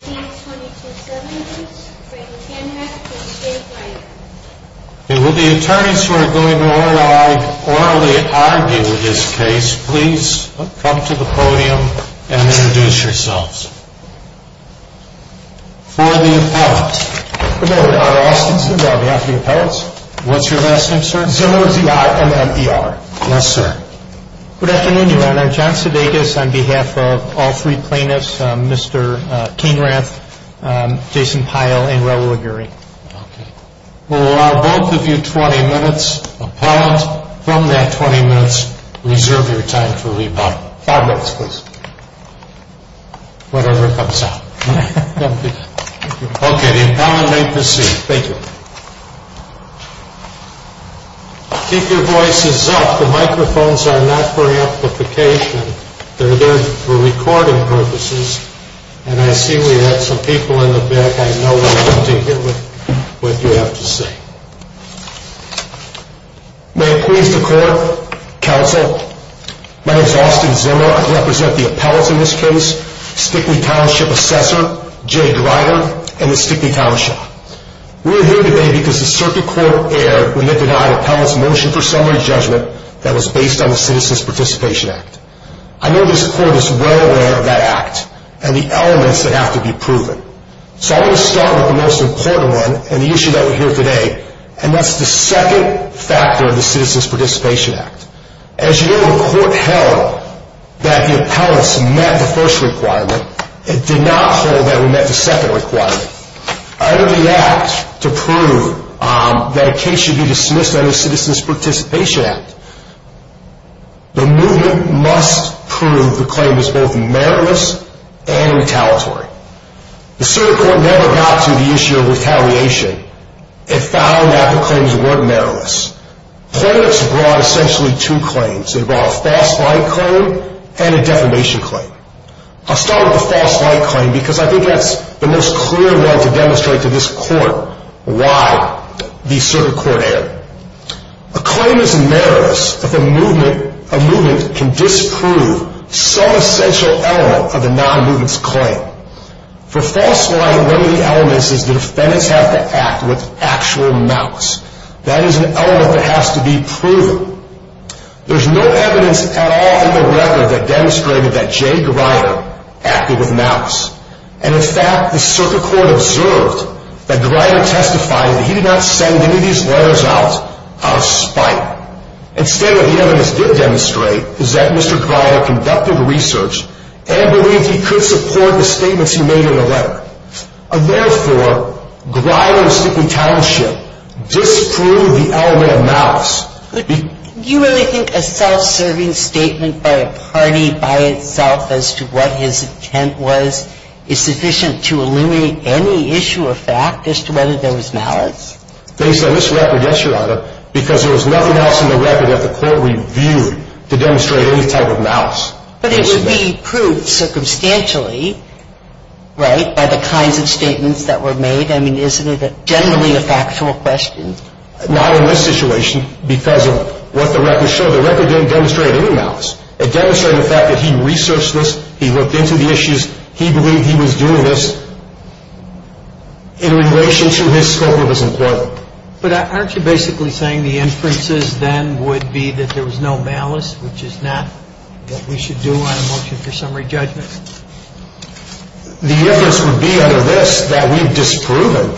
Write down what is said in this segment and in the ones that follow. It will be attorneys who are going to orally argue this case. Please come to the podium and introduce yourselves. For the appellants. Good afternoon, I'm R. Austinson on behalf of the appellants. What's your last name, sir? Zimmer, Z-I-M-M-E-R. Yes, sir. Good afternoon, Your Honor. John Sudeikis on behalf of all three plaintiffs, Mr. Kainrath, Jason Pyle, and Raoul Aguri. Okay. We'll allow both of you 20 minutes. Appellant, from that 20 minutes, reserve your time for rebuttal. Five minutes, please. Whatever comes out. Okay, the appellant may proceed. Thank you. Keep your voices up. The microphones are not for amplification. They're there for recording purposes. And I see we have some people in the back. I know what you have to say. May it please the court, counsel, my name is Austin Zimmer. I represent the appellants in this case. Stickney Township Assessor, Jay Grider, and the Stickney Township. We're here today because the circuit court erred when they denied appellants motion for summary judgment that was based on the Citizens Participation Act. I know this court is well aware of that act and the elements that have to be proven. So I'm going to start with the most important one and the issue that we hear today, and that's the second factor of the Citizens Participation Act. As you know, the court held that the appellants met the first requirement. It did not hold that we met the second requirement. Under the act, to prove that a case should be dismissed under the Citizens Participation Act, the movement must prove the claim is both meritless and retaliatory. The circuit court never got to the issue of retaliation. It found that the claims weren't meritless. Appellants brought essentially two claims. They brought a false light claim and a defamation claim. I'll start with the false light claim because I think that's the most clear one to demonstrate to this court why the circuit court erred. A claim is meritless if a movement can disprove some essential element of the non-movement's claim. For false light, one of the elements is the defendants have to act with actual mouths. That is an element that has to be proven. There's no evidence at all in the record that demonstrated that Jay Greider acted with mouths. And, in fact, the circuit court observed that Greider testified that he did not send any of these letters out out of spite. Instead, what the evidence did demonstrate is that Mr. Greider conducted research and believed he could support the statements he made in the letter. And, therefore, Greider's secretarianship disproved the element of mouths. Do you really think a self-serving statement by a party by itself as to what his intent was is sufficient to eliminate any issue or fact as to whether there was malice? Based on this record, yes, Your Honor, because there was nothing else in the record that the court reviewed to demonstrate any type of malice. But it would be proved circumstantially, right, by the kinds of statements that were made? I mean, isn't it generally a factual question? Not in this situation because of what the record showed. The record didn't demonstrate any malice. It demonstrated the fact that he researched this. He looked into the issues. He believed he was doing this in relation to his scope of his employment. But aren't you basically saying the inferences then would be that there was no malice, which is not what we should do on a motion for summary judgment? The inference would be under this that we've disproven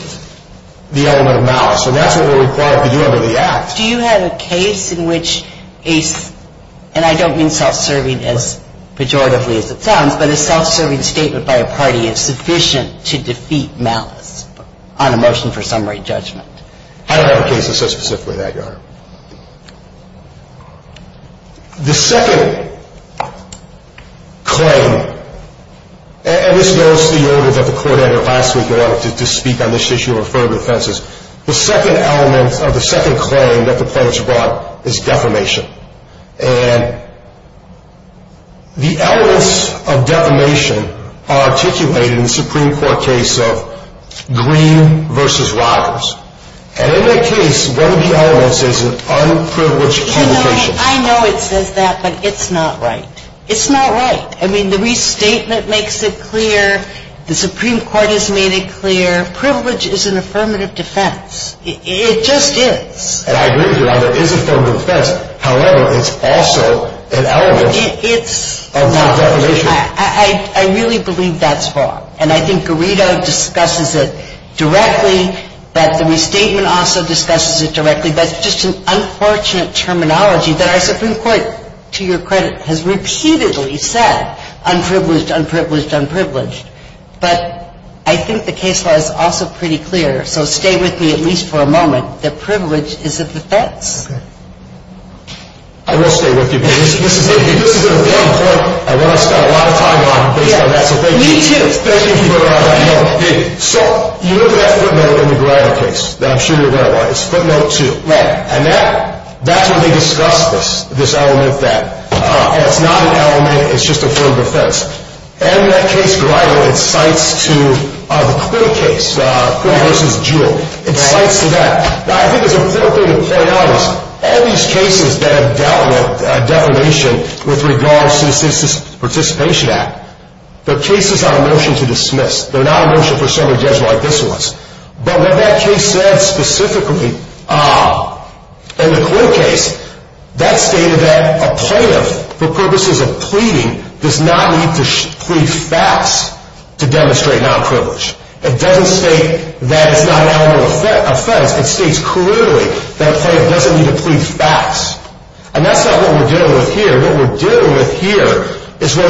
the element of malice. So that's what we're required to do under the Act. Do you have a case in which a, and I don't mean self-serving as pejoratively as it sounds, but a self-serving statement by a party is sufficient to defeat malice on a motion for summary judgment? I don't have a case that says specifically that, Your Honor. The second claim, and this goes to the order that the court had last week in order to speak on this issue of affirmative offenses. The second element of the second claim that the plaintiffs brought is defamation. And the elements of defamation are articulated in the Supreme Court case of Green v. Rogers. And in that case, one of the elements is an unprivileged communication. I know it says that, but it's not right. It's not right. I mean, the restatement makes it clear. The Supreme Court has made it clear. Privilege is an affirmative defense. It just is. And I agree with you, Your Honor. It is an affirmative defense. However, it's also an element of defamation. I really believe that's wrong. And I think Garrido discusses it directly. But the restatement also discusses it directly. That's just an unfortunate terminology that our Supreme Court, to your credit, has repeatedly said, unprivileged, unprivileged, unprivileged. But I think the case law is also pretty clear. So stay with me at least for a moment. That privilege is a defense. Okay. I will stay with you. This is an important point. I want to spend a lot of time on it based on that. So thank you. Me too. Thank you for that. So you look at that footnote in the Garrido case that I'm sure you're aware of. It's footnote two. Right. And that's where they discuss this element that it's not an element. It's just an affirmative defense. And that case Garrido incites to the Quinn case, Quinn v. Jewel. Okay. Incites to that. Now, I think there's a third thing to point out is all these cases that have dealt with defamation with regards to the Citizens Participation Act, they're cases on a motion to dismiss. They're not a motion for someone to judge like this was. But what that case said specifically in the Quinn case, that stated that a plaintiff, for purposes of pleading, does not need to plead facts to demonstrate nonprivilege. It doesn't state that it's not an element of offense. It states clearly that a plaintiff doesn't need to plead facts. And that's not what we're dealing with here. What we're dealing with here is where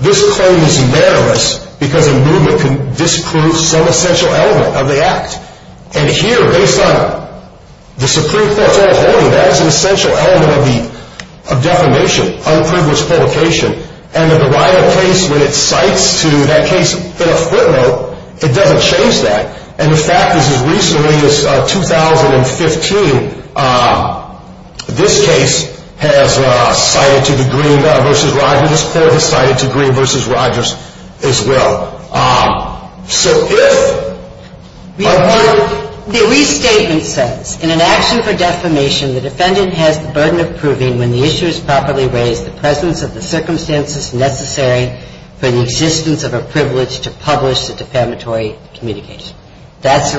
this claim is meritless because a movement can disprove some essential element of the act. And here, based on the Supreme Court's own holding, that is an essential element of defamation, unprivileged publication. And the Garrido case, when it cites to that case in a footnote, it doesn't change that. And the fact is, as recently as 2015, this case has cited to Green v. Rogers. This court has cited to Green v. Rogers as well. So if I want to... That's the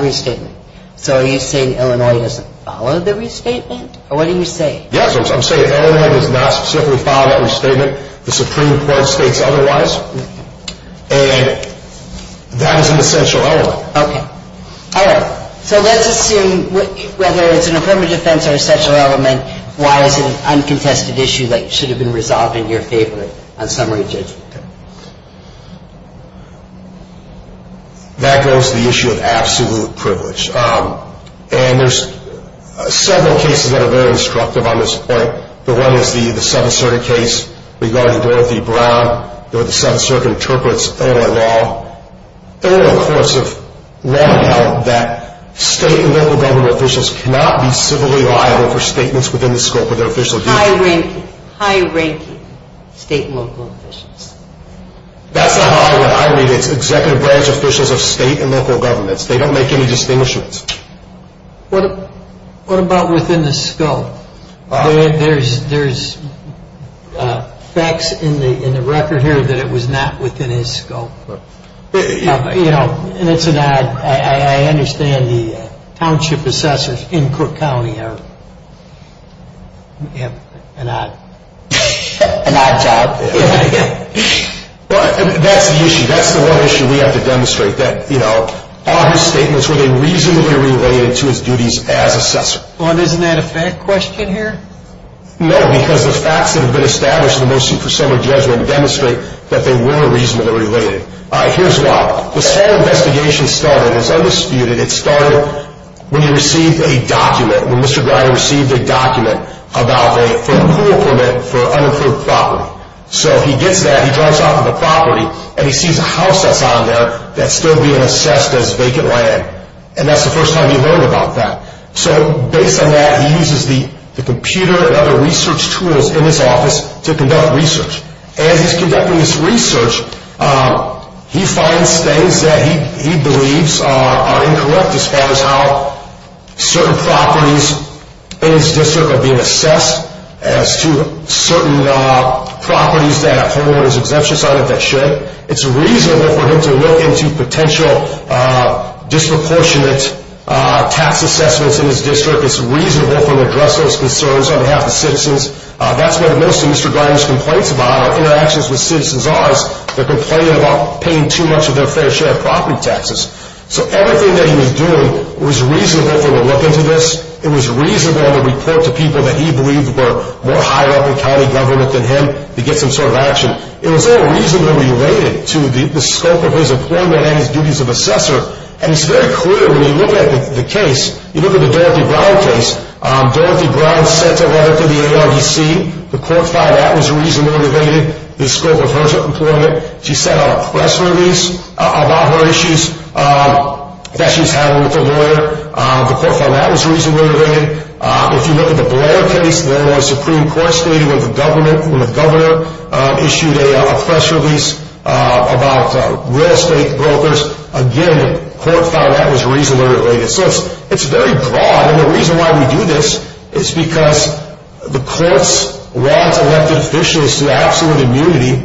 restatement. So are you saying Illinois doesn't follow the restatement? Or what are you saying? Yes, I'm saying Illinois does not specifically follow that restatement. The Supreme Court states otherwise. And that is an essential element. Okay. All right. So let's assume whether it's an affirmative defense or an essential element, why is it an uncontested issue that should have been resolved in your favor on summary judgment? That goes to the issue of absolute privilege. And there's several cases that are very instructive on this point. The one is the Southern Circuit case regarding Dorothy Brown. The Southern Circuit interprets Illinois law. Illinois courts have long held that state and local government officials cannot be civilly liable for statements within the scope of their official duties. High-ranking. High-ranking state and local officials. That's not how I read it. It's executive branch officials of state and local governments. They don't make any distinguishments. What about within the scope? There's facts in the record here that it was not within his scope. You know, and it's an odd... I understand the township assessors in Cook County are... An odd job. That's the issue. That's the one issue we have to demonstrate, that, you know, are his statements, were they reasonably related to his duties as assessor? Isn't that a fact question here? No, because the facts that have been established in the motion for summary judgment demonstrate that they were reasonably related. All right. Here's why. This whole investigation started, it's undisputed. It started when he received a document, when Mr. Griner received a document about a pool permit for unincorporated property. So he gets that, he drives off of the property, and he sees a house that's on there that's still being assessed as vacant land. And that's the first time he heard about that. So based on that, he uses the computer and other research tools in his office to conduct research. As he's conducting this research, he finds things that he believes are incorrect as far as how certain properties in his district are being assessed, as to certain properties that have homeowners exemptions on it that should. It's reasonable for him to look into potential disproportionate tax assessments in his district. It's reasonable for him to address those concerns on behalf of the citizens. That's what most of Mr. Griner's complaints about are interactions with citizens' odds. They're complaining about paying too much of their fair share of property taxes. So everything that he was doing was reasonable for him to look into this. It was reasonable to report to people that he believed were more higher up in county government than him to get some sort of action. It was all reasonably related to the scope of his employment and his duties of assessor. And it's very clear when you look at the case, you look at the Dorothy Brown case. Dorothy Brown sent a letter to the ARDC. The court found that was reasonably related to the scope of her employment. She sent out a press release about her issues that she was having with the lawyer. The court found that was reasonably related. If you look at the Blair case, there was a Supreme Court statement when the governor issued a press release about real estate brokers. Again, the court found that was reasonably related. So it's very broad, and the reason why we do this is because the courts want elected officials to have absolute immunity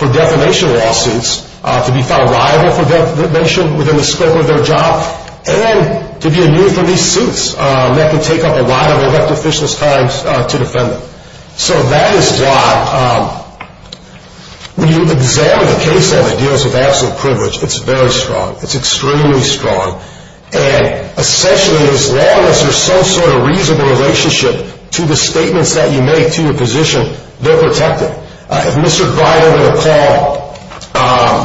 for defamation lawsuits, to be found liable for defamation within the scope of their job, and to be immune from these suits that can take up a lot of elected officials' time to defend them. So that is why when you examine a case that deals with absolute privilege, it's very strong. It's extremely strong. And essentially, as long as there's some sort of reasonable relationship to the statements that you make to your position, they're protected. If Mr. Biden were to call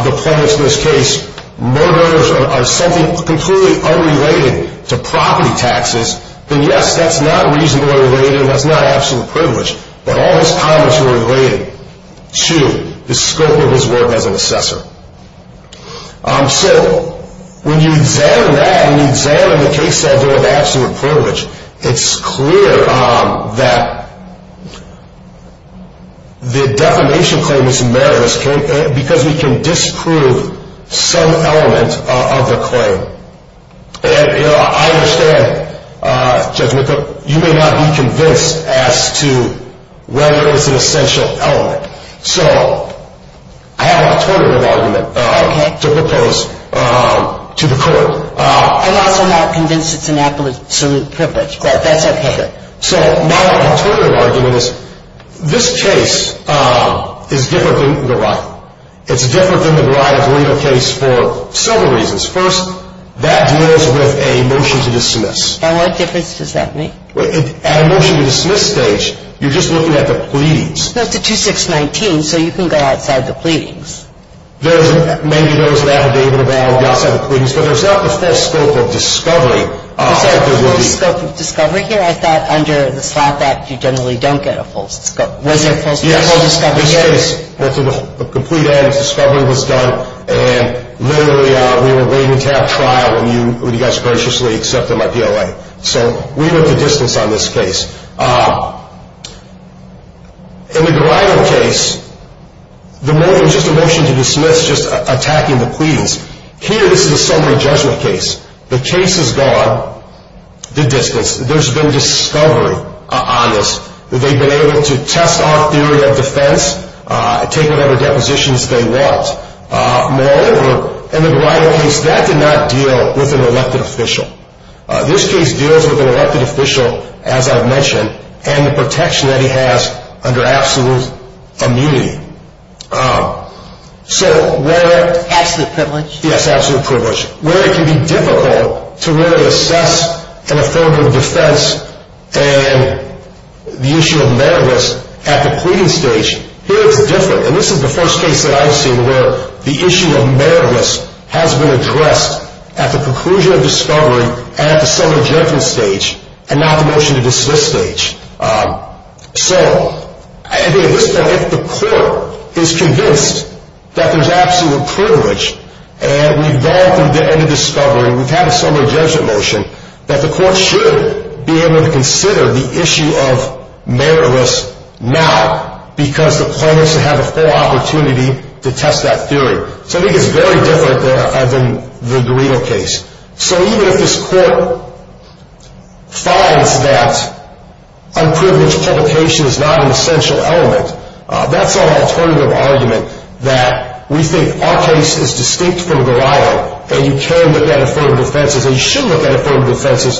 the plaintiffs in this case murderers or something completely unrelated to property taxes, then yes, that's not reasonably related, and that's not absolute privilege. But all his comments were related to the scope of his work as an assessor. So when you examine that and you examine the cases that deal with absolute privilege, it's clear that the defamation claim is murderous because we can disprove some element of the claim. And I understand, Judge McCook, you may not be convinced as to whether it's an essential element. So I have an alternative argument to propose to the court. I'm also not convinced it's an absolute privilege, but that's okay. So my alternative argument is this case is different than the Ryan. It's different than the Ryan-Gorino case for several reasons. First, that deals with a motion to dismiss. And what difference does that make? At a motion to dismiss stage, you're just looking at the pleas. It's a 2-6-19, so you can go outside the pleadings. Maybe there was an affidavit about going outside the pleadings, but there's not the full scope of discovery. Is there a full scope of discovery here? I thought under the SLAP Act, you generally don't get a full scope. Was there a full scope of discovery here? Yes, this case, the complete end of discovery was done, and literally we were waiting to have trial when you guys graciously accepted my PLA. So we looked at distance on this case. In the Gorino case, the motion was just a motion to dismiss, just attacking the pleas. Here, this is a summary judgment case. The case has gone the distance. There's been discovery on this. They've been able to test our theory of defense, take whatever depositions they want. Moreover, in the Gorino case, that did not deal with an elected official. This case deals with an elected official, as I've mentioned, and the protection that he has under absolute immunity. Absolute privilege? Yes, absolute privilege. Where it can be difficult to really assess an affirmative defense and the issue of meritless at the pleading stage, here it's different. And this is the first case that I've seen where the issue of meritless has been addressed at the conclusion of discovery at the summary judgment stage and not the motion to dismiss stage. So I think at this point, if the court is convinced that there's absolute privilege and we've gone through the end of discovery, we've had a summary judgment motion, that the court should be able to consider the issue of meritless now because the plaintiffs have a full opportunity to test that theory. So I think it's very different than the Gorino case. So even if this court finds that unprivileged publication is not an essential element, that's an alternative argument that we think our case is distinct from Gorino and you can look at affirmative defenses and you should look at affirmative defenses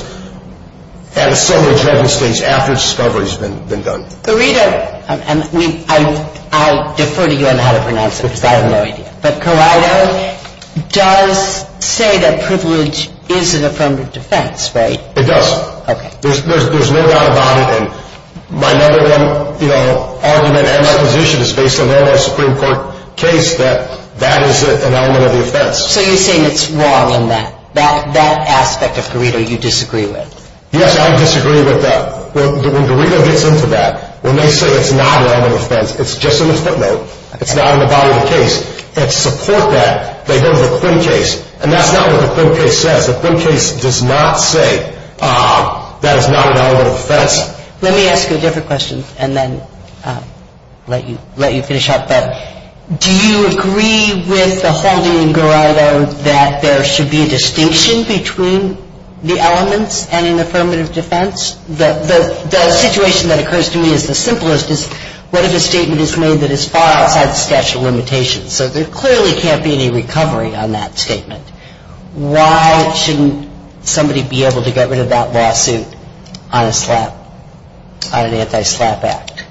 at a summary judgment stage after discovery has been done. Gorino, and I'll defer to you on how to pronounce it because I have no idea, but Corrado does say that privilege is an affirmative defense, right? It does. Okay. There's no doubt about it and my number one, you know, argument and my position is based on the Supreme Court case that that is an element of the offense. So you're saying it's wrong in that aspect of Gorino you disagree with? Yes, I disagree with that. When Gorino gets into that, when they say it's not an element of offense, it's just in the footnote, it's not in the body of the case, and to support that they go to the Quinn case and that's not what the Quinn case says. The Quinn case does not say that it's not an element of offense. Let me ask you a different question and then let you finish up, but do you agree with the holding in Gorino that there should be a distinction between the elements and an affirmative defense? The situation that occurs to me is the simplest is what if a statement is made that is far outside the statute of limitations? So there clearly can't be any recovery on that statement. Why shouldn't somebody be able to get rid of that lawsuit on a slap, on an anti-slap act?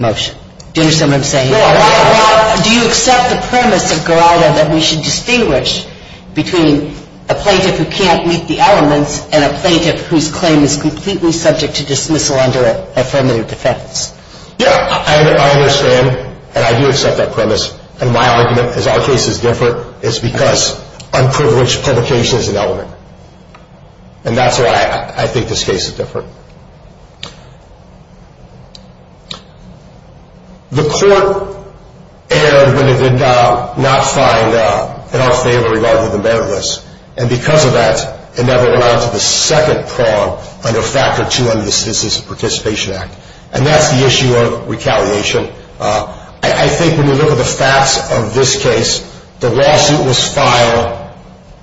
Motion. Do you understand what I'm saying? Yeah. Do you accept the premise of Gorino that we should distinguish between a plaintiff who can't meet the elements and a plaintiff whose claim is completely subject to dismissal under an affirmative defense? Yeah, I understand and I do accept that premise. And my argument is our case is different. It's because unprivileged publication is an element. And that's why I think this case is different. The court erred when it did not find in our favor regarding the meritless. And because of that, it never went out to the second prong under Factor 2 under the Citizens Participation Act. And that's the issue of recalliation. I think when you look at the facts of this case, the lawsuit was filed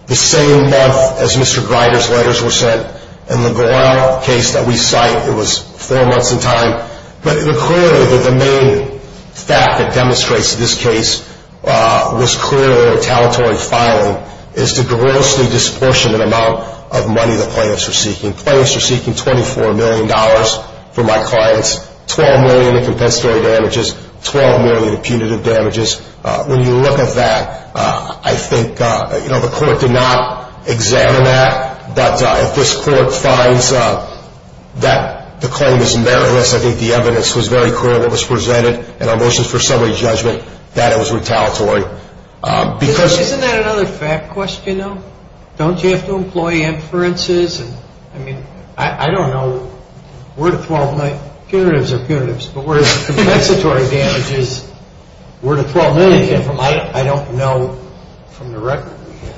the same month as Mr. Grider's letters were sent. And the Gorino case that we cite, it was four months in time. But clearly the main fact that demonstrates this case was clearly retaliatory filing is the grossly disproportionate amount of money the plaintiffs are seeking. The plaintiffs are seeking $24 million for my clients, $12 million in compensatory damages, $12 million in punitive damages. When you look at that, I think the court did not examine that. But if this court finds that the claim is meritless, I think the evidence was very clear in what was presented in our motions for summary judgment that it was retaliatory. Isn't that another fact question, though? Don't you have to employ inferences? I mean, I don't know. We're at $12 million. Punitives are punitives. But where is the compensatory damages? We're at $12 million. I don't know from the record we have.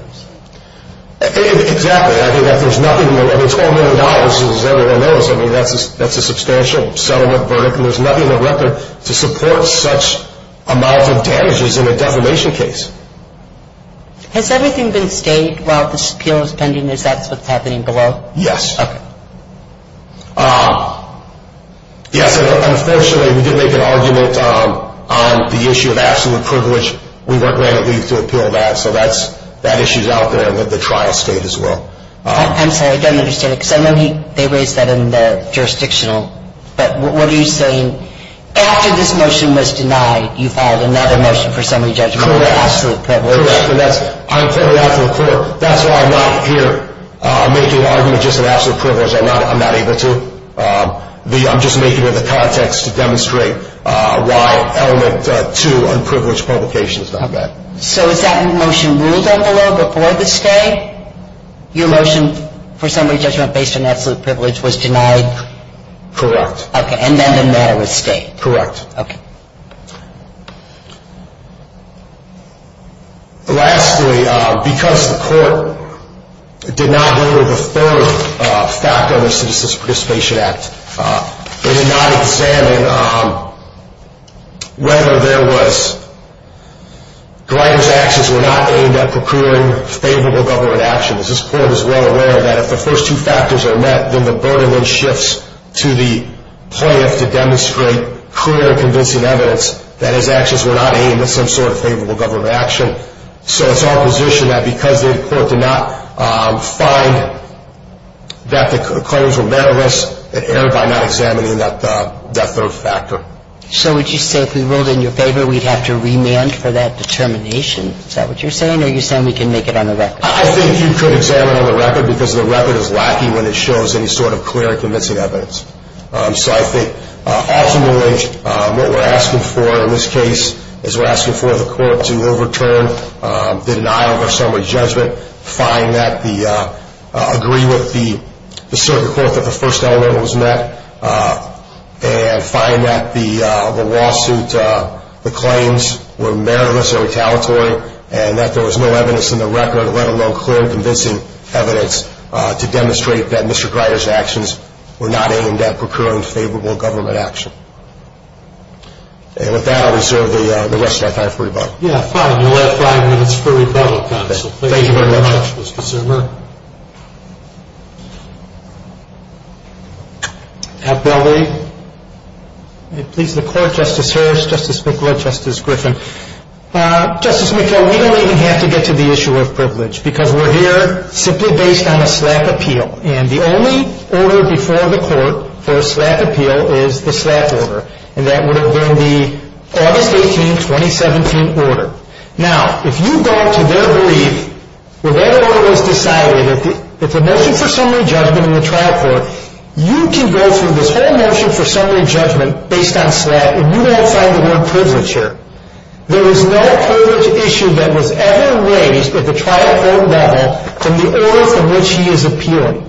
Exactly. I mean, $12 million, as everyone knows, I mean, that's a substantial settlement verdict. And there's nothing on record to support such amounts of damages in a defamation case. Has everything been stayed while this appeal is pending? Is that what's happening below? Yes. Okay. Yes, unfortunately, we did make an argument on the issue of absolute privilege. We weren't granted leave to appeal that. So that issue is out there with the tri-state as well. I'm sorry, I don't understand it. Because I know they raised that in the jurisdictional. But what are you saying? After this motion was denied, you filed another motion for summary judgment based on absolute privilege. Correct. And that's why I'm not here making an argument just on absolute privilege. I'm not able to. I'm just making it in the context to demonstrate why element two, unprivileged publication, is not met. So is that motion ruled on the law before the stay? Your motion for summary judgment based on absolute privilege was denied? Correct. Okay. And then the matter was stayed. Correct. Okay. Lastly, because the court did not hear the third fact on the Citizens Participation Act, they did not examine whether there was Grider's actions were not aimed at procuring favorable government action. Because this court is well aware that if the first two factors are met, then the burden then shifts to the plaintiff to demonstrate clear and convincing evidence that his actions were not aimed at some sort of favorable government action. So it's our position that because the court did not find that the claims were matterless, it erred by not examining that third factor. So would you say if we ruled in your favor, we'd have to remand for that determination? Is that what you're saying? Or are you saying we can make it on the record? I think you could examine on the record because the record is lacking when it shows any sort of clear and convincing evidence. So I think ultimately what we're asking for in this case is we're asking for the court to overturn the denial of our summary judgment, agree with the circuit court that the first element was met, and find that the lawsuit claims were meritless and retaliatory, and that there was no evidence in the record, let alone clear and convincing evidence, to demonstrate that Mr. Grider's actions were not aimed at procuring favorable government action. And with that, I'll reserve the rest of my time for rebuttal. Yeah, fine. You'll have five minutes for rebuttal, counsel. Thank you very much, Mr. Zimmer. Appellate? Please, the court, Justice Harris, Justice Mikula, Justice Griffin. Justice Mikula, we don't even have to get to the issue of privilege because we're here simply based on a SLAPP appeal, and the only order before the court for a SLAPP appeal is the SLAPP order, and that would have been the August 18, 2017 order. Now, if you go to their brief, where that order was decided, if the motion for summary judgment in the trial court, you can go through this whole motion for summary judgment based on SLAPP, and you won't find the word privilege here. There is no privilege issue that was ever raised at the trial court level from the order from which he is appealing.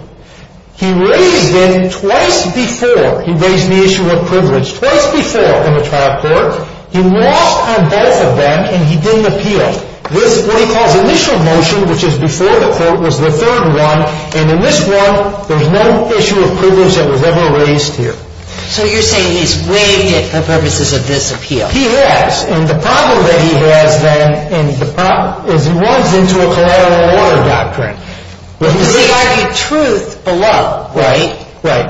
He raised it twice before. He raised the issue of privilege twice before in the trial court. He lost on both of them, and he didn't appeal. This is what he calls initial motion, which is before the court was the third one, and in this one, there's no issue of privilege that was ever raised here. So you're saying he's waived it for purposes of this appeal? He has, and the problem that he has then is he runs into a collateral order doctrine. Because he argued truth below, right? Right.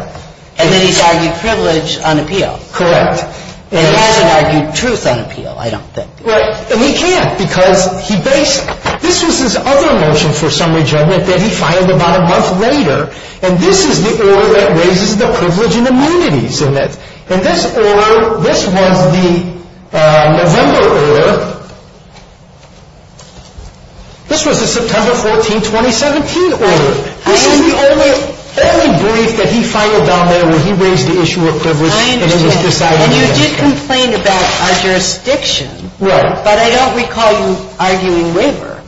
And then he's argued privilege on appeal. Correct. And he hasn't argued truth on appeal, I don't think. Right. And he can't, because this was his other motion for summary judgment that he filed about a month later, and this is the order that raises the privilege and immunities in it. And this order, this was the November order. This was the September 14, 2017 order. This is the only brief that he filed down there where he raised the issue of privilege. I understand. And you did complain about our jurisdiction. Right. But I don't recall you arguing waiver.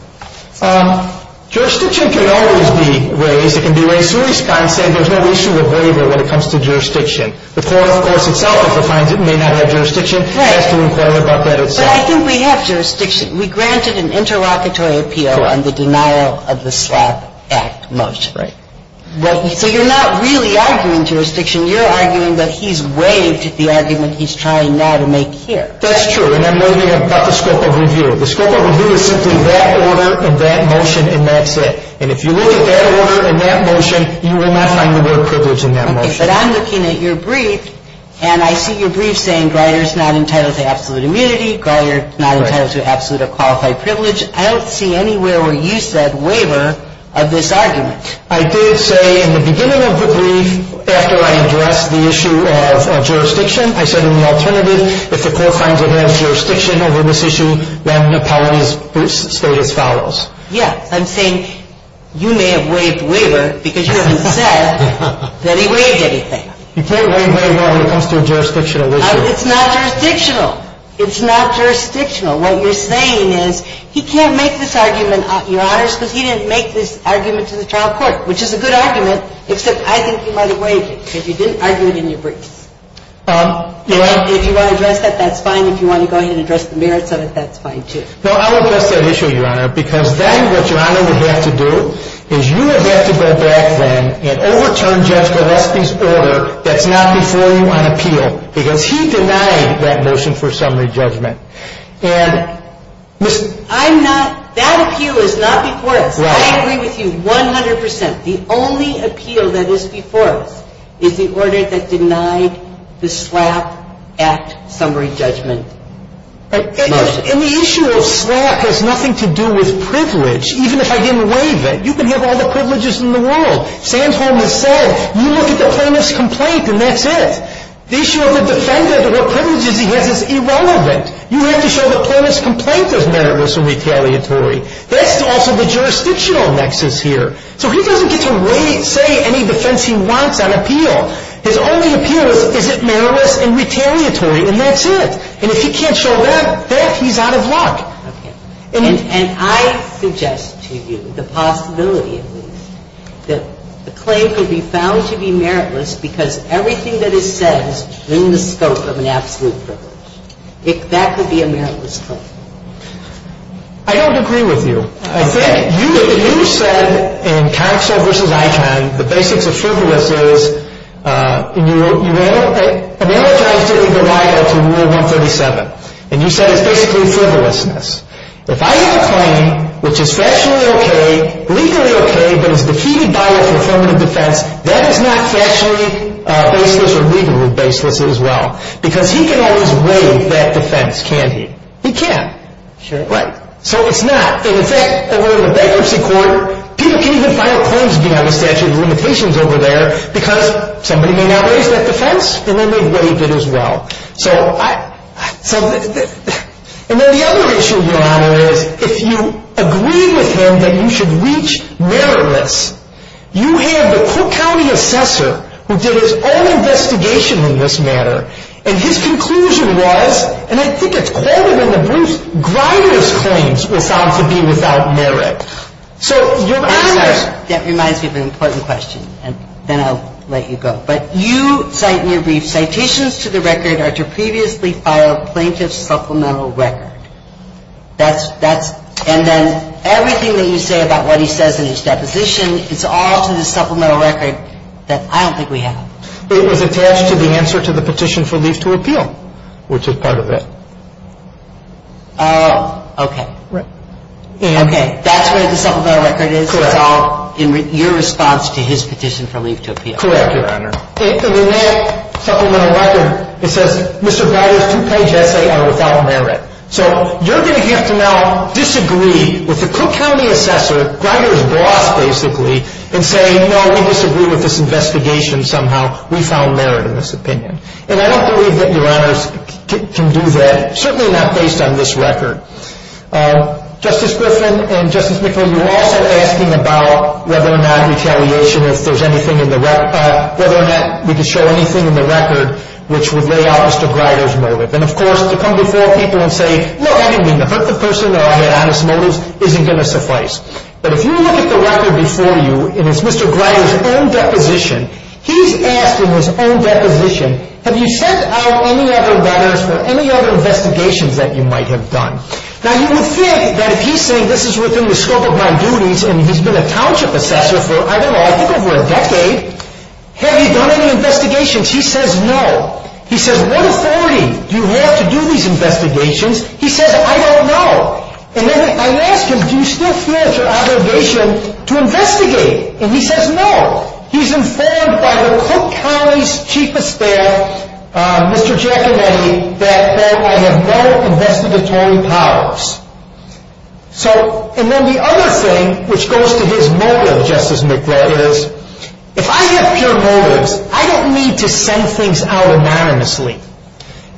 Jurisdiction can always be raised. It can be raised through a response saying there's no issue of waiver when it comes to jurisdiction. The court, of course, itself, if it finds it, may not have jurisdiction. It has to inquire about that itself. But I think we have jurisdiction. We granted an interlocutory appeal on the denial of the SLAPP Act motion. Right. So you're not really arguing jurisdiction. You're arguing that he's waived the argument he's trying now to make here. That's true. And I'm looking at the scope of review. The scope of review is simply that order and that motion and that's it. But I'm looking at your brief and I see your brief saying Greider is not entitled to absolute immunity. Greider is not entitled to absolute or qualified privilege. I don't see anywhere where you said waiver of this argument. I did say in the beginning of the brief, after I addressed the issue of jurisdiction, I said in the alternative, if the court finds it has jurisdiction over this issue, then the penalty is stated as follows. Yes. I'm saying you may have waived waiver because you haven't said that he waived anything. You can't waive waiver when it comes to a jurisdictional issue. It's not jurisdictional. It's not jurisdictional. What you're saying is he can't make this argument, Your Honors, because he didn't make this argument to the trial court, which is a good argument, except I think he might have waived it because you didn't argue it in your brief. If you want to address that, that's fine. If you want to go ahead and address the merits of it, that's fine, too. No, I won't address that issue, Your Honor, because then what Your Honor would have to do is you would have to go back then and overturn Judge Gillespie's order that's not before you on appeal because he denied that motion for summary judgment. And, Ms. ---- I'm not ñ that appeal is not before us. Right. I agree with you 100 percent. The only appeal that is before us is the order that denied the SLAPP Act summary judgment motion. And the issue of SLAPP has nothing to do with privilege, even if I didn't waive it. You can have all the privileges in the world. Sandholm has said, you look at the plaintiff's complaint and that's it. The issue of the defendant or privileges he has is irrelevant. You have to show the plaintiff's complaint is meritless and retaliatory. That's also the jurisdictional nexus here. So he doesn't get to say any defense he wants on appeal. His only appeal is, is it meritless and retaliatory, and that's it. And if he can't show that, then he's out of luck. Okay. And I suggest to you, the possibility at least, that the claim could be found to be meritless because everything that is said is in the scope of an absolute privilege. That could be a meritless claim. I don't agree with you. I think you said in Counsel v. Eichhorn, the basics of frivolous is you analyze the legal rival to Rule 137, and you said it's basically frivolousness. If I have a claim which is fashionably okay, legally okay, but is defeated by a formative defense, that is not fashionably baseless or legally baseless as well because he can always waive that defense, can't he? He can't. Sure. Right. So it's not. And in fact, over in the bankruptcy court, people can even file claims beyond the statute of limitations over there because somebody may not raise that defense and then they waive it as well. And then the other issue, Your Honor, is if you agree with him that you should reach meritless, you have the Cook County assessor who did his own investigation in this matter, and his conclusion was, and I think it's quartered in the Bruce Grider's claims, was found to be without merit. So, Your Honor. That reminds me of an important question, and then I'll let you go. But you cite in your brief, citations to the record are to previously file plaintiff's supplemental record. That's, and then everything that you say about what he says in his deposition, it's all to the supplemental record that I don't think we have. It was attached to the answer to the petition for leave to appeal, which is part of it. Oh, okay. Right. Okay. That's where the supplemental record is? Correct. It's all in your response to his petition for leave to appeal? Correct, Your Honor. And in that supplemental record, it says, Mr. Grider's two-page essay are without merit. So, you're going to have to now disagree with the Cook County assessor, Grider's boss, basically, and say, no, we disagree with this investigation somehow. We found merit in this opinion. And I don't believe that Your Honors can do that, certainly not based on this record. Justice Griffin and Justice McGill, you all said asking about whether or not we could show anything in the record which would lay out Mr. Grider's motive. And, of course, to come before people and say, look, I didn't mean to hurt the person. I had honest motives, isn't going to suffice. But if you look at the record before you, and it's Mr. Grider's own deposition, he's asking his own deposition, have you sent out any other letters or any other investigations that you might have done? Now, you would think that if he's saying this is within the scope of my duties and he's been a township assessor for, I don't know, I think over a decade, have he done any investigations? He says no. He says, what authority do you have to do these investigations? He says, I don't know. And then I ask him, do you still feel it's your obligation to investigate? And he says no. He's informed by the Cook County's Chief of Staff, Mr. Giacometti, that I have no investigative powers. So, and then the other thing, which goes to his motive, Justice McGrath, is if I have pure motives, I don't need to send things out anonymously.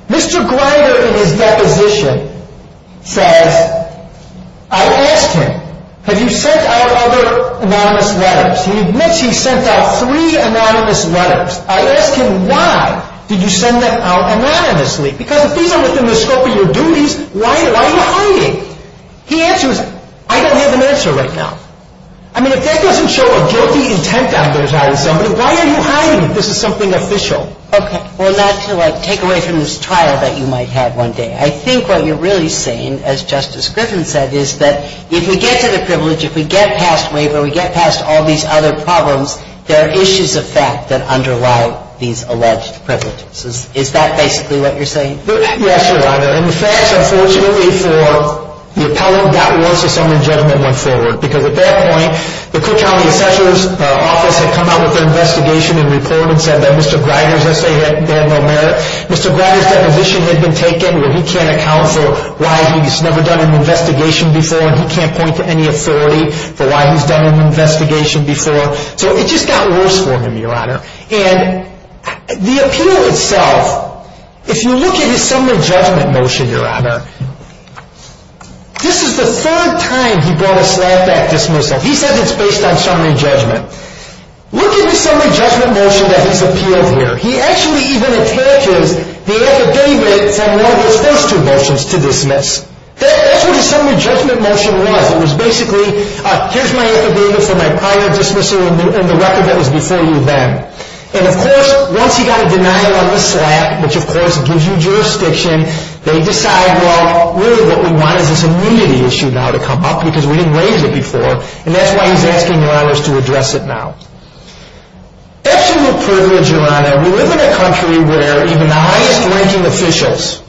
Mr. Grider, in his deposition, says, I asked him, have you sent out other anonymous letters? He admits he sent out three anonymous letters. I asked him, why did you send them out anonymously? Because if these are within the scope of your duties, why are you hiding? He answers, I don't have an answer right now. I mean, if that doesn't show a guilty intent after attacking somebody, why are you hiding if this is something official? Okay. Well, not to, like, take away from this trial that you might have one day. I think what you're really saying, as Justice Griffin said, is that if we get to the privilege, if we get past waiver, we get past all these other problems, there are issues of fact that underlie these alleged privileges. Is that basically what you're saying? Yes, Your Honor. And the facts, unfortunately, for the appellant, got worse as summary judgment went forward. Because at that point, the Cook County Assessor's Office had come out with an investigation and report and said that Mr. Grider's essay had no merit. Mr. Grider's deposition had been taken where he can't account for why he's never done an investigation before and he can't point to any authority for why he's done an investigation before. So it just got worse for him, Your Honor. And the appeal itself, if you look at his summary judgment motion, Your Honor, this is the third time he brought a slapback dismissal. He says it's based on summary judgment. Look at the summary judgment motion that he's appealed here. He actually even attaches the affidavit from one of his first two motions to dismiss. That's what his summary judgment motion was. It was basically, here's my affidavit for my prior dismissal and the record that was before you then. And, of course, once he got a denial on the slap, which, of course, gives you jurisdiction, they decide, well, really what we want is this immunity issue now to come up because we didn't raise it before. And that's why he's asking, Your Honor, us to address it now. That's a real privilege, Your Honor. We live in a country where even the highest ranking officials,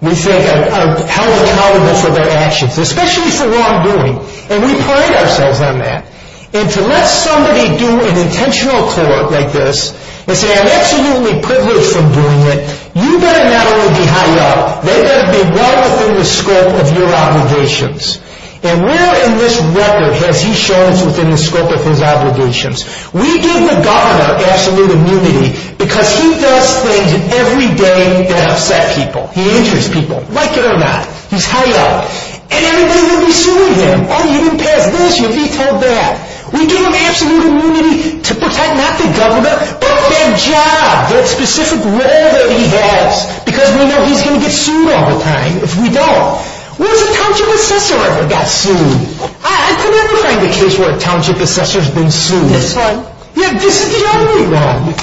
we think, are held accountable for their actions, especially for wrongdoing. And we pride ourselves on that. And to let somebody do an intentional court like this and say, I'm absolutely privileged from doing it, you better not only be high up, they better be well within the scope of your obligations. And where in this record has he shown us within the scope of his obligations? We give the governor absolute immunity because he does things every day that upset people. He injures people, like it or not. He's high up. And everybody would be suing him. Oh, you didn't pass this. You vetoed that. We give him absolute immunity to protect not the governor but their job, their specific role that he has because we know he's going to get sued all the time if we don't. When has a township assessor ever got sued? I could never find a case where a township assessor's been sued. This one. Yeah, this is the only one.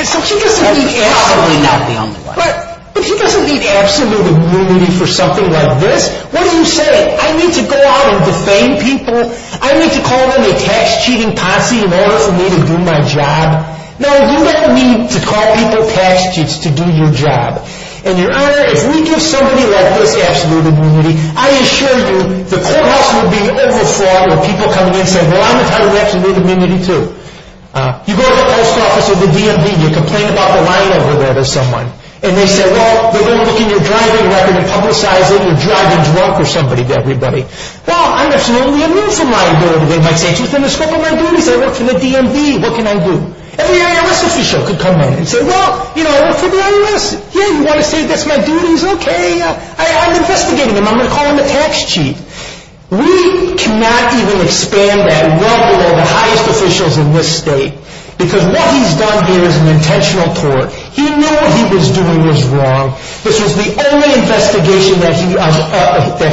And so he doesn't need absolute immunity. But if he doesn't need absolute immunity for something like this, what do you say? I need to go out and defame people? I need to call them a tax-cheating posse in order for me to do my job? No, you don't need to call people tax cheats to do your job. And, Your Honor, if we give somebody like this absolute immunity, I assure you the courthouse would be overflowed with people coming in saying, well, I'm entitled to absolute immunity, too. You go to the post office or the DMV and you complain about the line over there to someone, and they say, well, they're going to look in your driving record and publicize that you're driving drunk or somebody to everybody. Well, I'm absolutely immune from line over there. They might say, it's within the scope of my duties. I work for the DMV. What can I do? Every IRS official could come in and say, well, you know, I work for the IRS. Yeah, you want to say that's my duties? Okay, I'm investigating them. I'm going to call them a tax cheat. We cannot even expand that well below the highest officials in this state because what he's done here is an intentional tort. He knew what he was doing was wrong. This was the only investigation that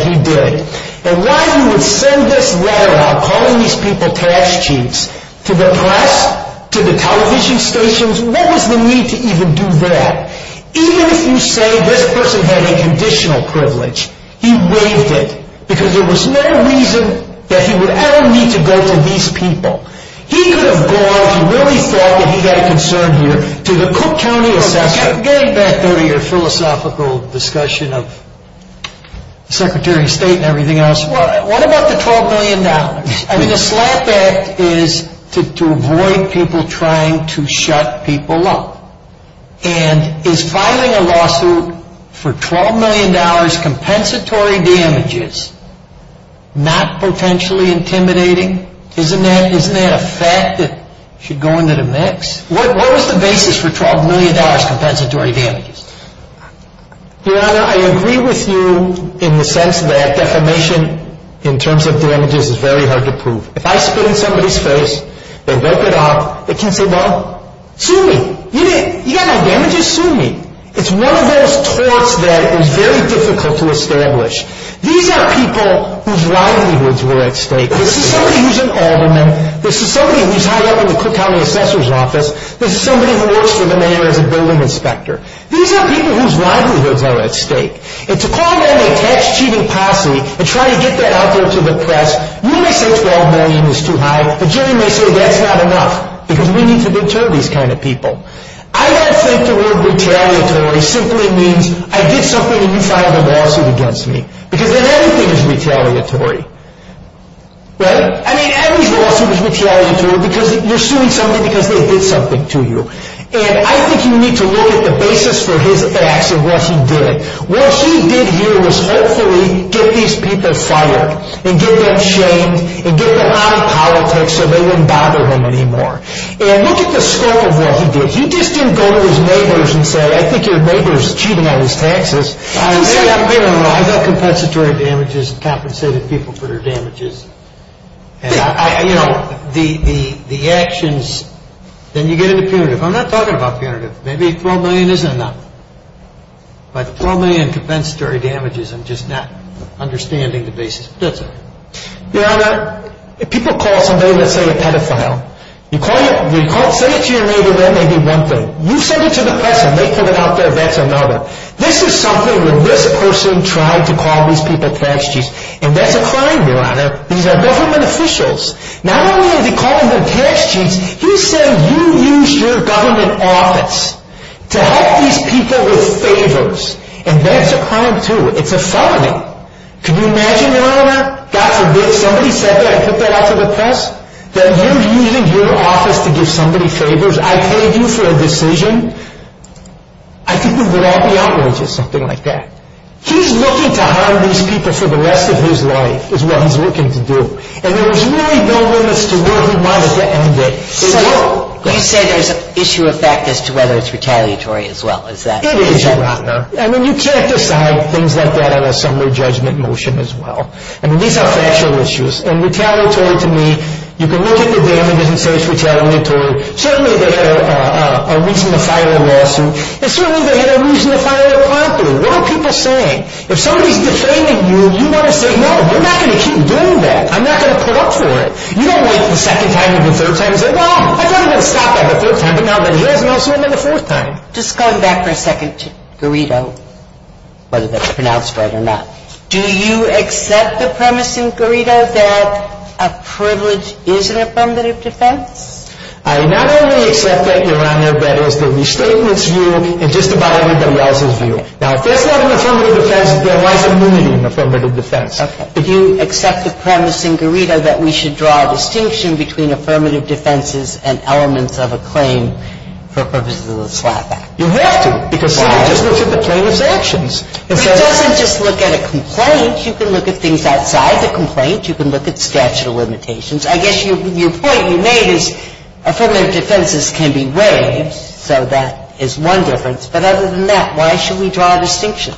he did. And why you would send this letter out calling these people tax cheats to the press, to the television stations, what was the need to even do that? Even if you say this person had a conditional privilege, he waived it because there was no reason that he would ever need to go to these people. He could have gone if he really thought that he had a concern here to the philosophical discussion of the Secretary of State and everything else. What about the $12 million? I mean, the SLAPP Act is to avoid people trying to shut people up. And is filing a lawsuit for $12 million compensatory damages not potentially intimidating? Isn't that a fact that should go into the mix? What was the basis for $12 million compensatory damages? Your Honor, I agree with you in the sense that defamation in terms of damages is very hard to prove. If I spit in somebody's face and vote it out, they can say, well, sue me. You got my damages? Sue me. It's one of those torts that is very difficult to establish. These are people whose livelihoods were at stake. This is somebody who's an alderman. This is somebody who's high up in the Cook County Assessor's Office. This is somebody who works for the mayor as a building inspector. These are people whose livelihoods are at stake. And to call them a tax-cheating posse and try to get that out there to the press, you may say $12 million is too high, but jury may say that's not enough because we need to deter these kind of people. I don't think the word retaliatory simply means I did something and you filed a lawsuit against me because then everything is retaliatory. Right? Every lawsuit is retaliatory because you're suing somebody because they did something to you. And I think you need to look at the basis for his acts and what he did. What he did here was hopefully get these people fired and get them shamed and get them out of politics so they wouldn't bother him anymore. And look at the scope of what he did. He just didn't go to his neighbors and say, I think your neighbor is cheating on his taxes. I've got compensatory damages and compensated people for their damages. And, you know, the actions, then you get into punitive. I'm not talking about punitive. Maybe $12 million isn't enough. But $12 million in compensatory damages, I'm just not understanding the basis. People call somebody, let's say, a pedophile. Say it to your neighbor, that may be one thing. You send it to the press and they put it out there, that's another. This is something where this person tried to call these people tax cheats. And that's a crime, Your Honor. These are government officials. Not only are they calling them tax cheats, you said you used your government office to help these people with favors. And that's a crime, too. It's a felony. Can you imagine, Your Honor? God forbid somebody said that and put that out to the press? That you're using your office to give somebody favors? I paid you for a decision. I think we would all be outraged at something like that. He's looking to harm these people for the rest of his life is what he's looking to do. And there was really no limits to where he wanted to end it. So you say there's an issue of fact as to whether it's retaliatory as well. It is, Your Honor. I mean, you can't decide things like that on a summary judgment motion as well. I mean, these are factual issues. And retaliatory to me, you can look at the damages and say it's retaliatory. Certainly they had a reason to file a lawsuit. And certainly they had a reason to file a complaint. What are people saying? If somebody's defaming you, you want to say, no, we're not going to keep doing that. I'm not going to put up for it. You don't wait for the second time or the third time and say, no, I don't even stop at the third time, but now I'm in jail, so I'm in the fourth time. Just going back for a second to Garrido, whether that's pronounced right or not. Do you accept the premise in Garrido that a privilege is an affirmative defense? I not only accept that, Your Honor, but it's the Restatement's view and just about everybody else's view. Now, if that's not an affirmative defense, then why is immunity an affirmative defense? Okay. Do you accept the premise in Garrido that we should draw a distinction between affirmative defenses and elements of a claim for purposes of the Slap Act? You have to. Why? Because somebody just looks at the plaintiff's actions. It doesn't just look at a complaint. You can look at things outside the complaint. You can look at statute of limitations. I guess your point you made is affirmative defenses can be waived, so that is one difference. But other than that, why should we draw a distinction?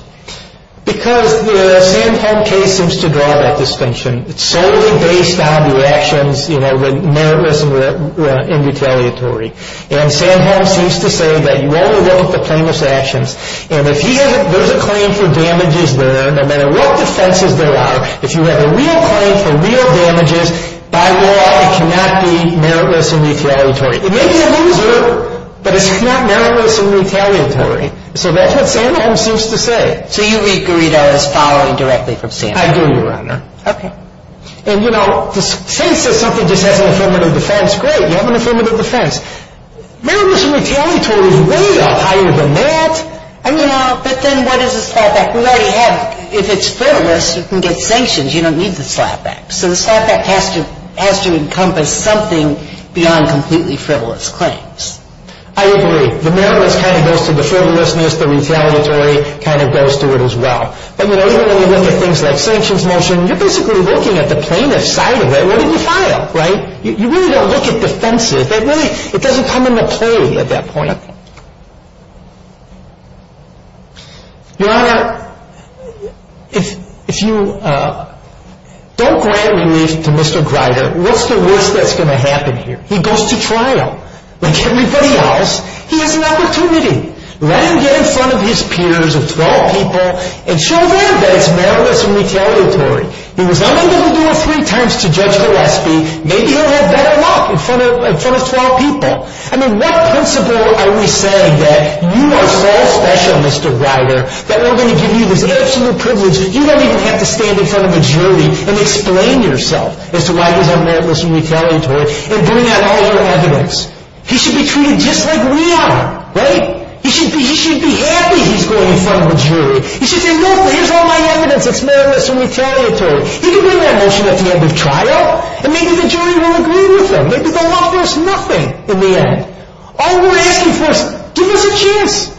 Because the Sandholm case seems to draw that distinction. It's solely based on your actions, you know, were meritorious and retaliatory. And Sandholm seems to say that you only look at the plaintiff's actions. And if he has a claim for damages there, no matter what defenses there are, if you have a real claim for real damages, by law it cannot be meritorious and retaliatory. It may be a loser, but it's not meritorious and retaliatory. So that's what Sandholm seems to say. So you read Garrido as following directly from Sandholm? I do, Your Honor. Okay. And, you know, since something just has an affirmative defense, great, you have an affirmative defense. Meritorious and retaliatory is way higher than that. I don't know, but then what is a slapback? We already have, if it's frivolous, you can get sanctions. You don't need the slapback. So the slapback has to encompass something beyond completely frivolous claims. I agree. The meritorious kind of goes to the frivolousness. The retaliatory kind of goes to it as well. But, you know, even when you look at things like sanctions motion, you're basically looking at the plaintiff's side of it. What did you file, right? You really don't look at defenses. It doesn't come into play at that point. Your Honor, if you don't grant relief to Mr. Grider, what's the worst that's going to happen here? He goes to trial. Like everybody else, he has an opportunity. Let him get in front of his peers of 12 people and show them that it's meritorious and retaliatory. He was unable to do it three times to Judge Gillespie. Maybe he'll have better luck in front of 12 people. I mean, what principle are we saying that you are so special, Mr. Grider, that we're going to give you this absolute privilege that you don't even have to stand in front of a jury and explain yourself as to why he's unmeritorious and retaliatory and bring out all your evidence? He should be treated just like we are, right? He should be happy he's going in front of a jury. He should say, look, here's all my evidence that's meritorious and retaliatory. He can bring that motion at the end of trial and maybe the jury will agree with him. Maybe they'll offer us nothing in the end. All we're asking for is give us a chance.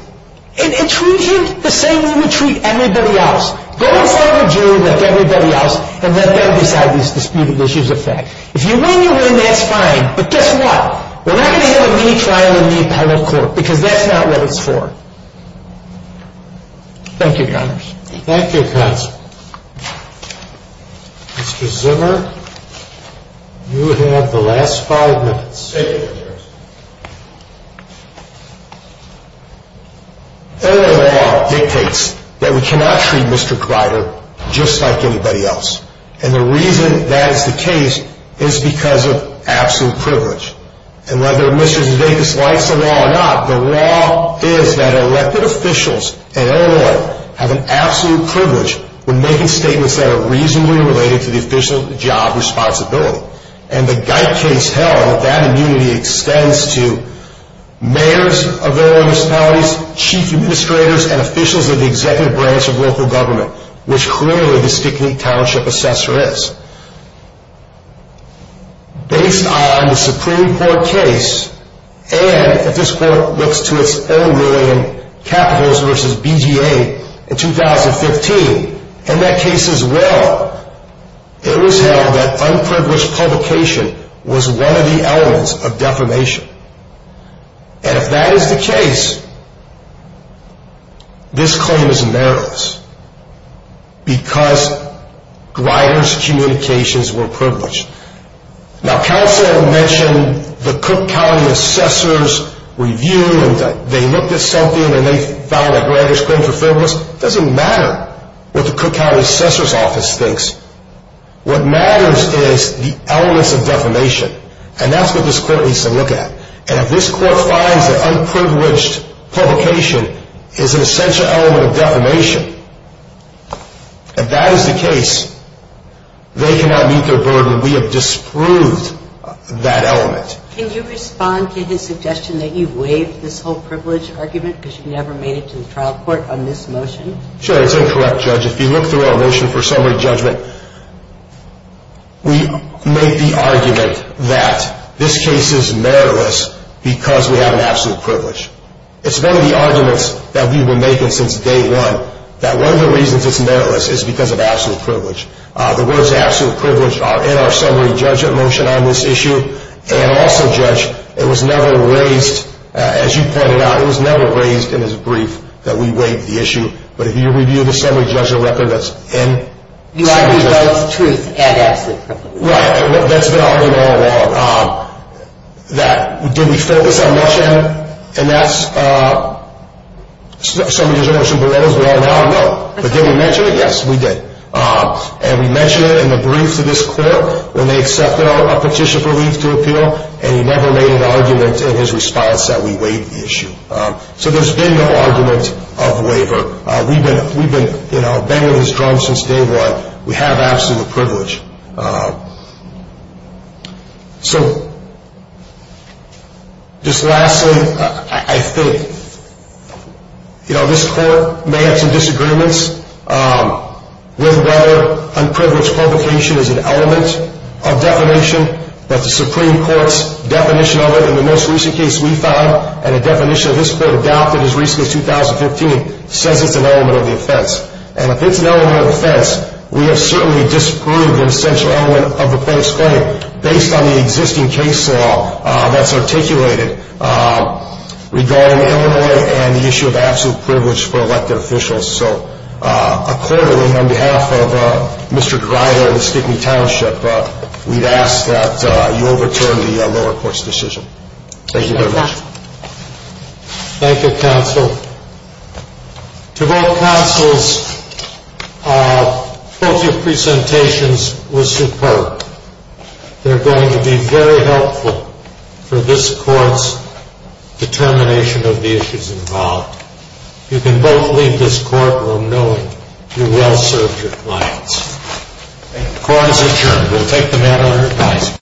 And treat him the same way we treat everybody else. Go in front of a jury like everybody else and let them decide these disputed issues of fact. If you win, you win. That's fine. But guess what? We're not going to have a mini-trial in the appellate court because that's not what it's for. Thank you, Your Honor. Thank you, counsel. Mr. Zimmer, you have the last five minutes. Thank you, Your Honor. Illinois law dictates that we cannot treat Mr. Kreider just like anybody else. And the reason that is the case is because of absolute privilege. And whether Mr. Zdeikas likes the law or not, the law is that elected officials in Illinois have an absolute privilege when making statements that are reasonably related to the official job responsibility. And the Geith case held that that immunity extends to mayors of their municipalities, chief administrators, and officials of the executive branch of local government, which clearly the Stickney Township assessor is. Based on the Supreme Court case, and if this court looks to its own ruling, Capitals v. BGA in 2015, and that case as well, it was held that unprivileged publication was one of the elements of defamation. And if that is the case, this claim is meritorious because Greider's communications were privileged. Now, counsel mentioned the Cook County assessor's review, and they looked at something and they found that Greider's claims were frivolous. It doesn't matter what the Cook County assessor's office thinks. What matters is the elements of defamation. And that's what this court needs to look at. And if this court finds that unprivileged publication is an essential element of defamation, if that is the case, they cannot meet their burden. We have disproved that element. Can you respond to his suggestion that you've waived this whole privilege argument because you never made it to the trial court on this motion? Sure. It's incorrect, Judge. If you look through our motion for summary judgment, we make the argument that this case is meritless because we have an absolute privilege. It's one of the arguments that we've been making since day one, that one of the reasons it's meritless is because of absolute privilege. The words absolute privilege are in our summary judgment motion on this issue. And also, Judge, it was never raised, as you pointed out, it was never raised in his brief that we waived the issue. But if you review the summary judgment record, that's in the summary judgment motion. You argue about truth and absolute privilege. Right. That's been out there all along. Did we focus our motion, and that's summary judgment motion below, as we all now know. But did we mention it? Yes, we did. And we mentioned it in the brief to this court when they accepted our petition for leave to appeal, and he never made an argument in his response that we waived the issue. So there's been no argument of waiver. We've been banging his drum since day one. We have absolute privilege. So just lastly, I think, you know, this court may have some disagreements with whether unprivileged provocation is an element of defamation. But the Supreme Court's definition of it in the most recent case we found and a definition this court adopted as recently as 2015 says it's an element of the offense. And if it's an element of offense, we have certainly disproved an essential element of the plaintiff's claim based on the existing case law that's articulated regarding Illinois and the issue of absolute privilege for elected officials. So accordingly, on behalf of Mr. Dryda and the Stickney Township, we'd ask that you overturn the lower court's decision. Thank you very much. Thank you, counsel. To both counsels, both your presentations were superb. They're going to be very helpful for this court's determination of the issues involved. You can both leave this courtroom knowing you well served your clients. The court is adjourned. We'll take the mat on your ties.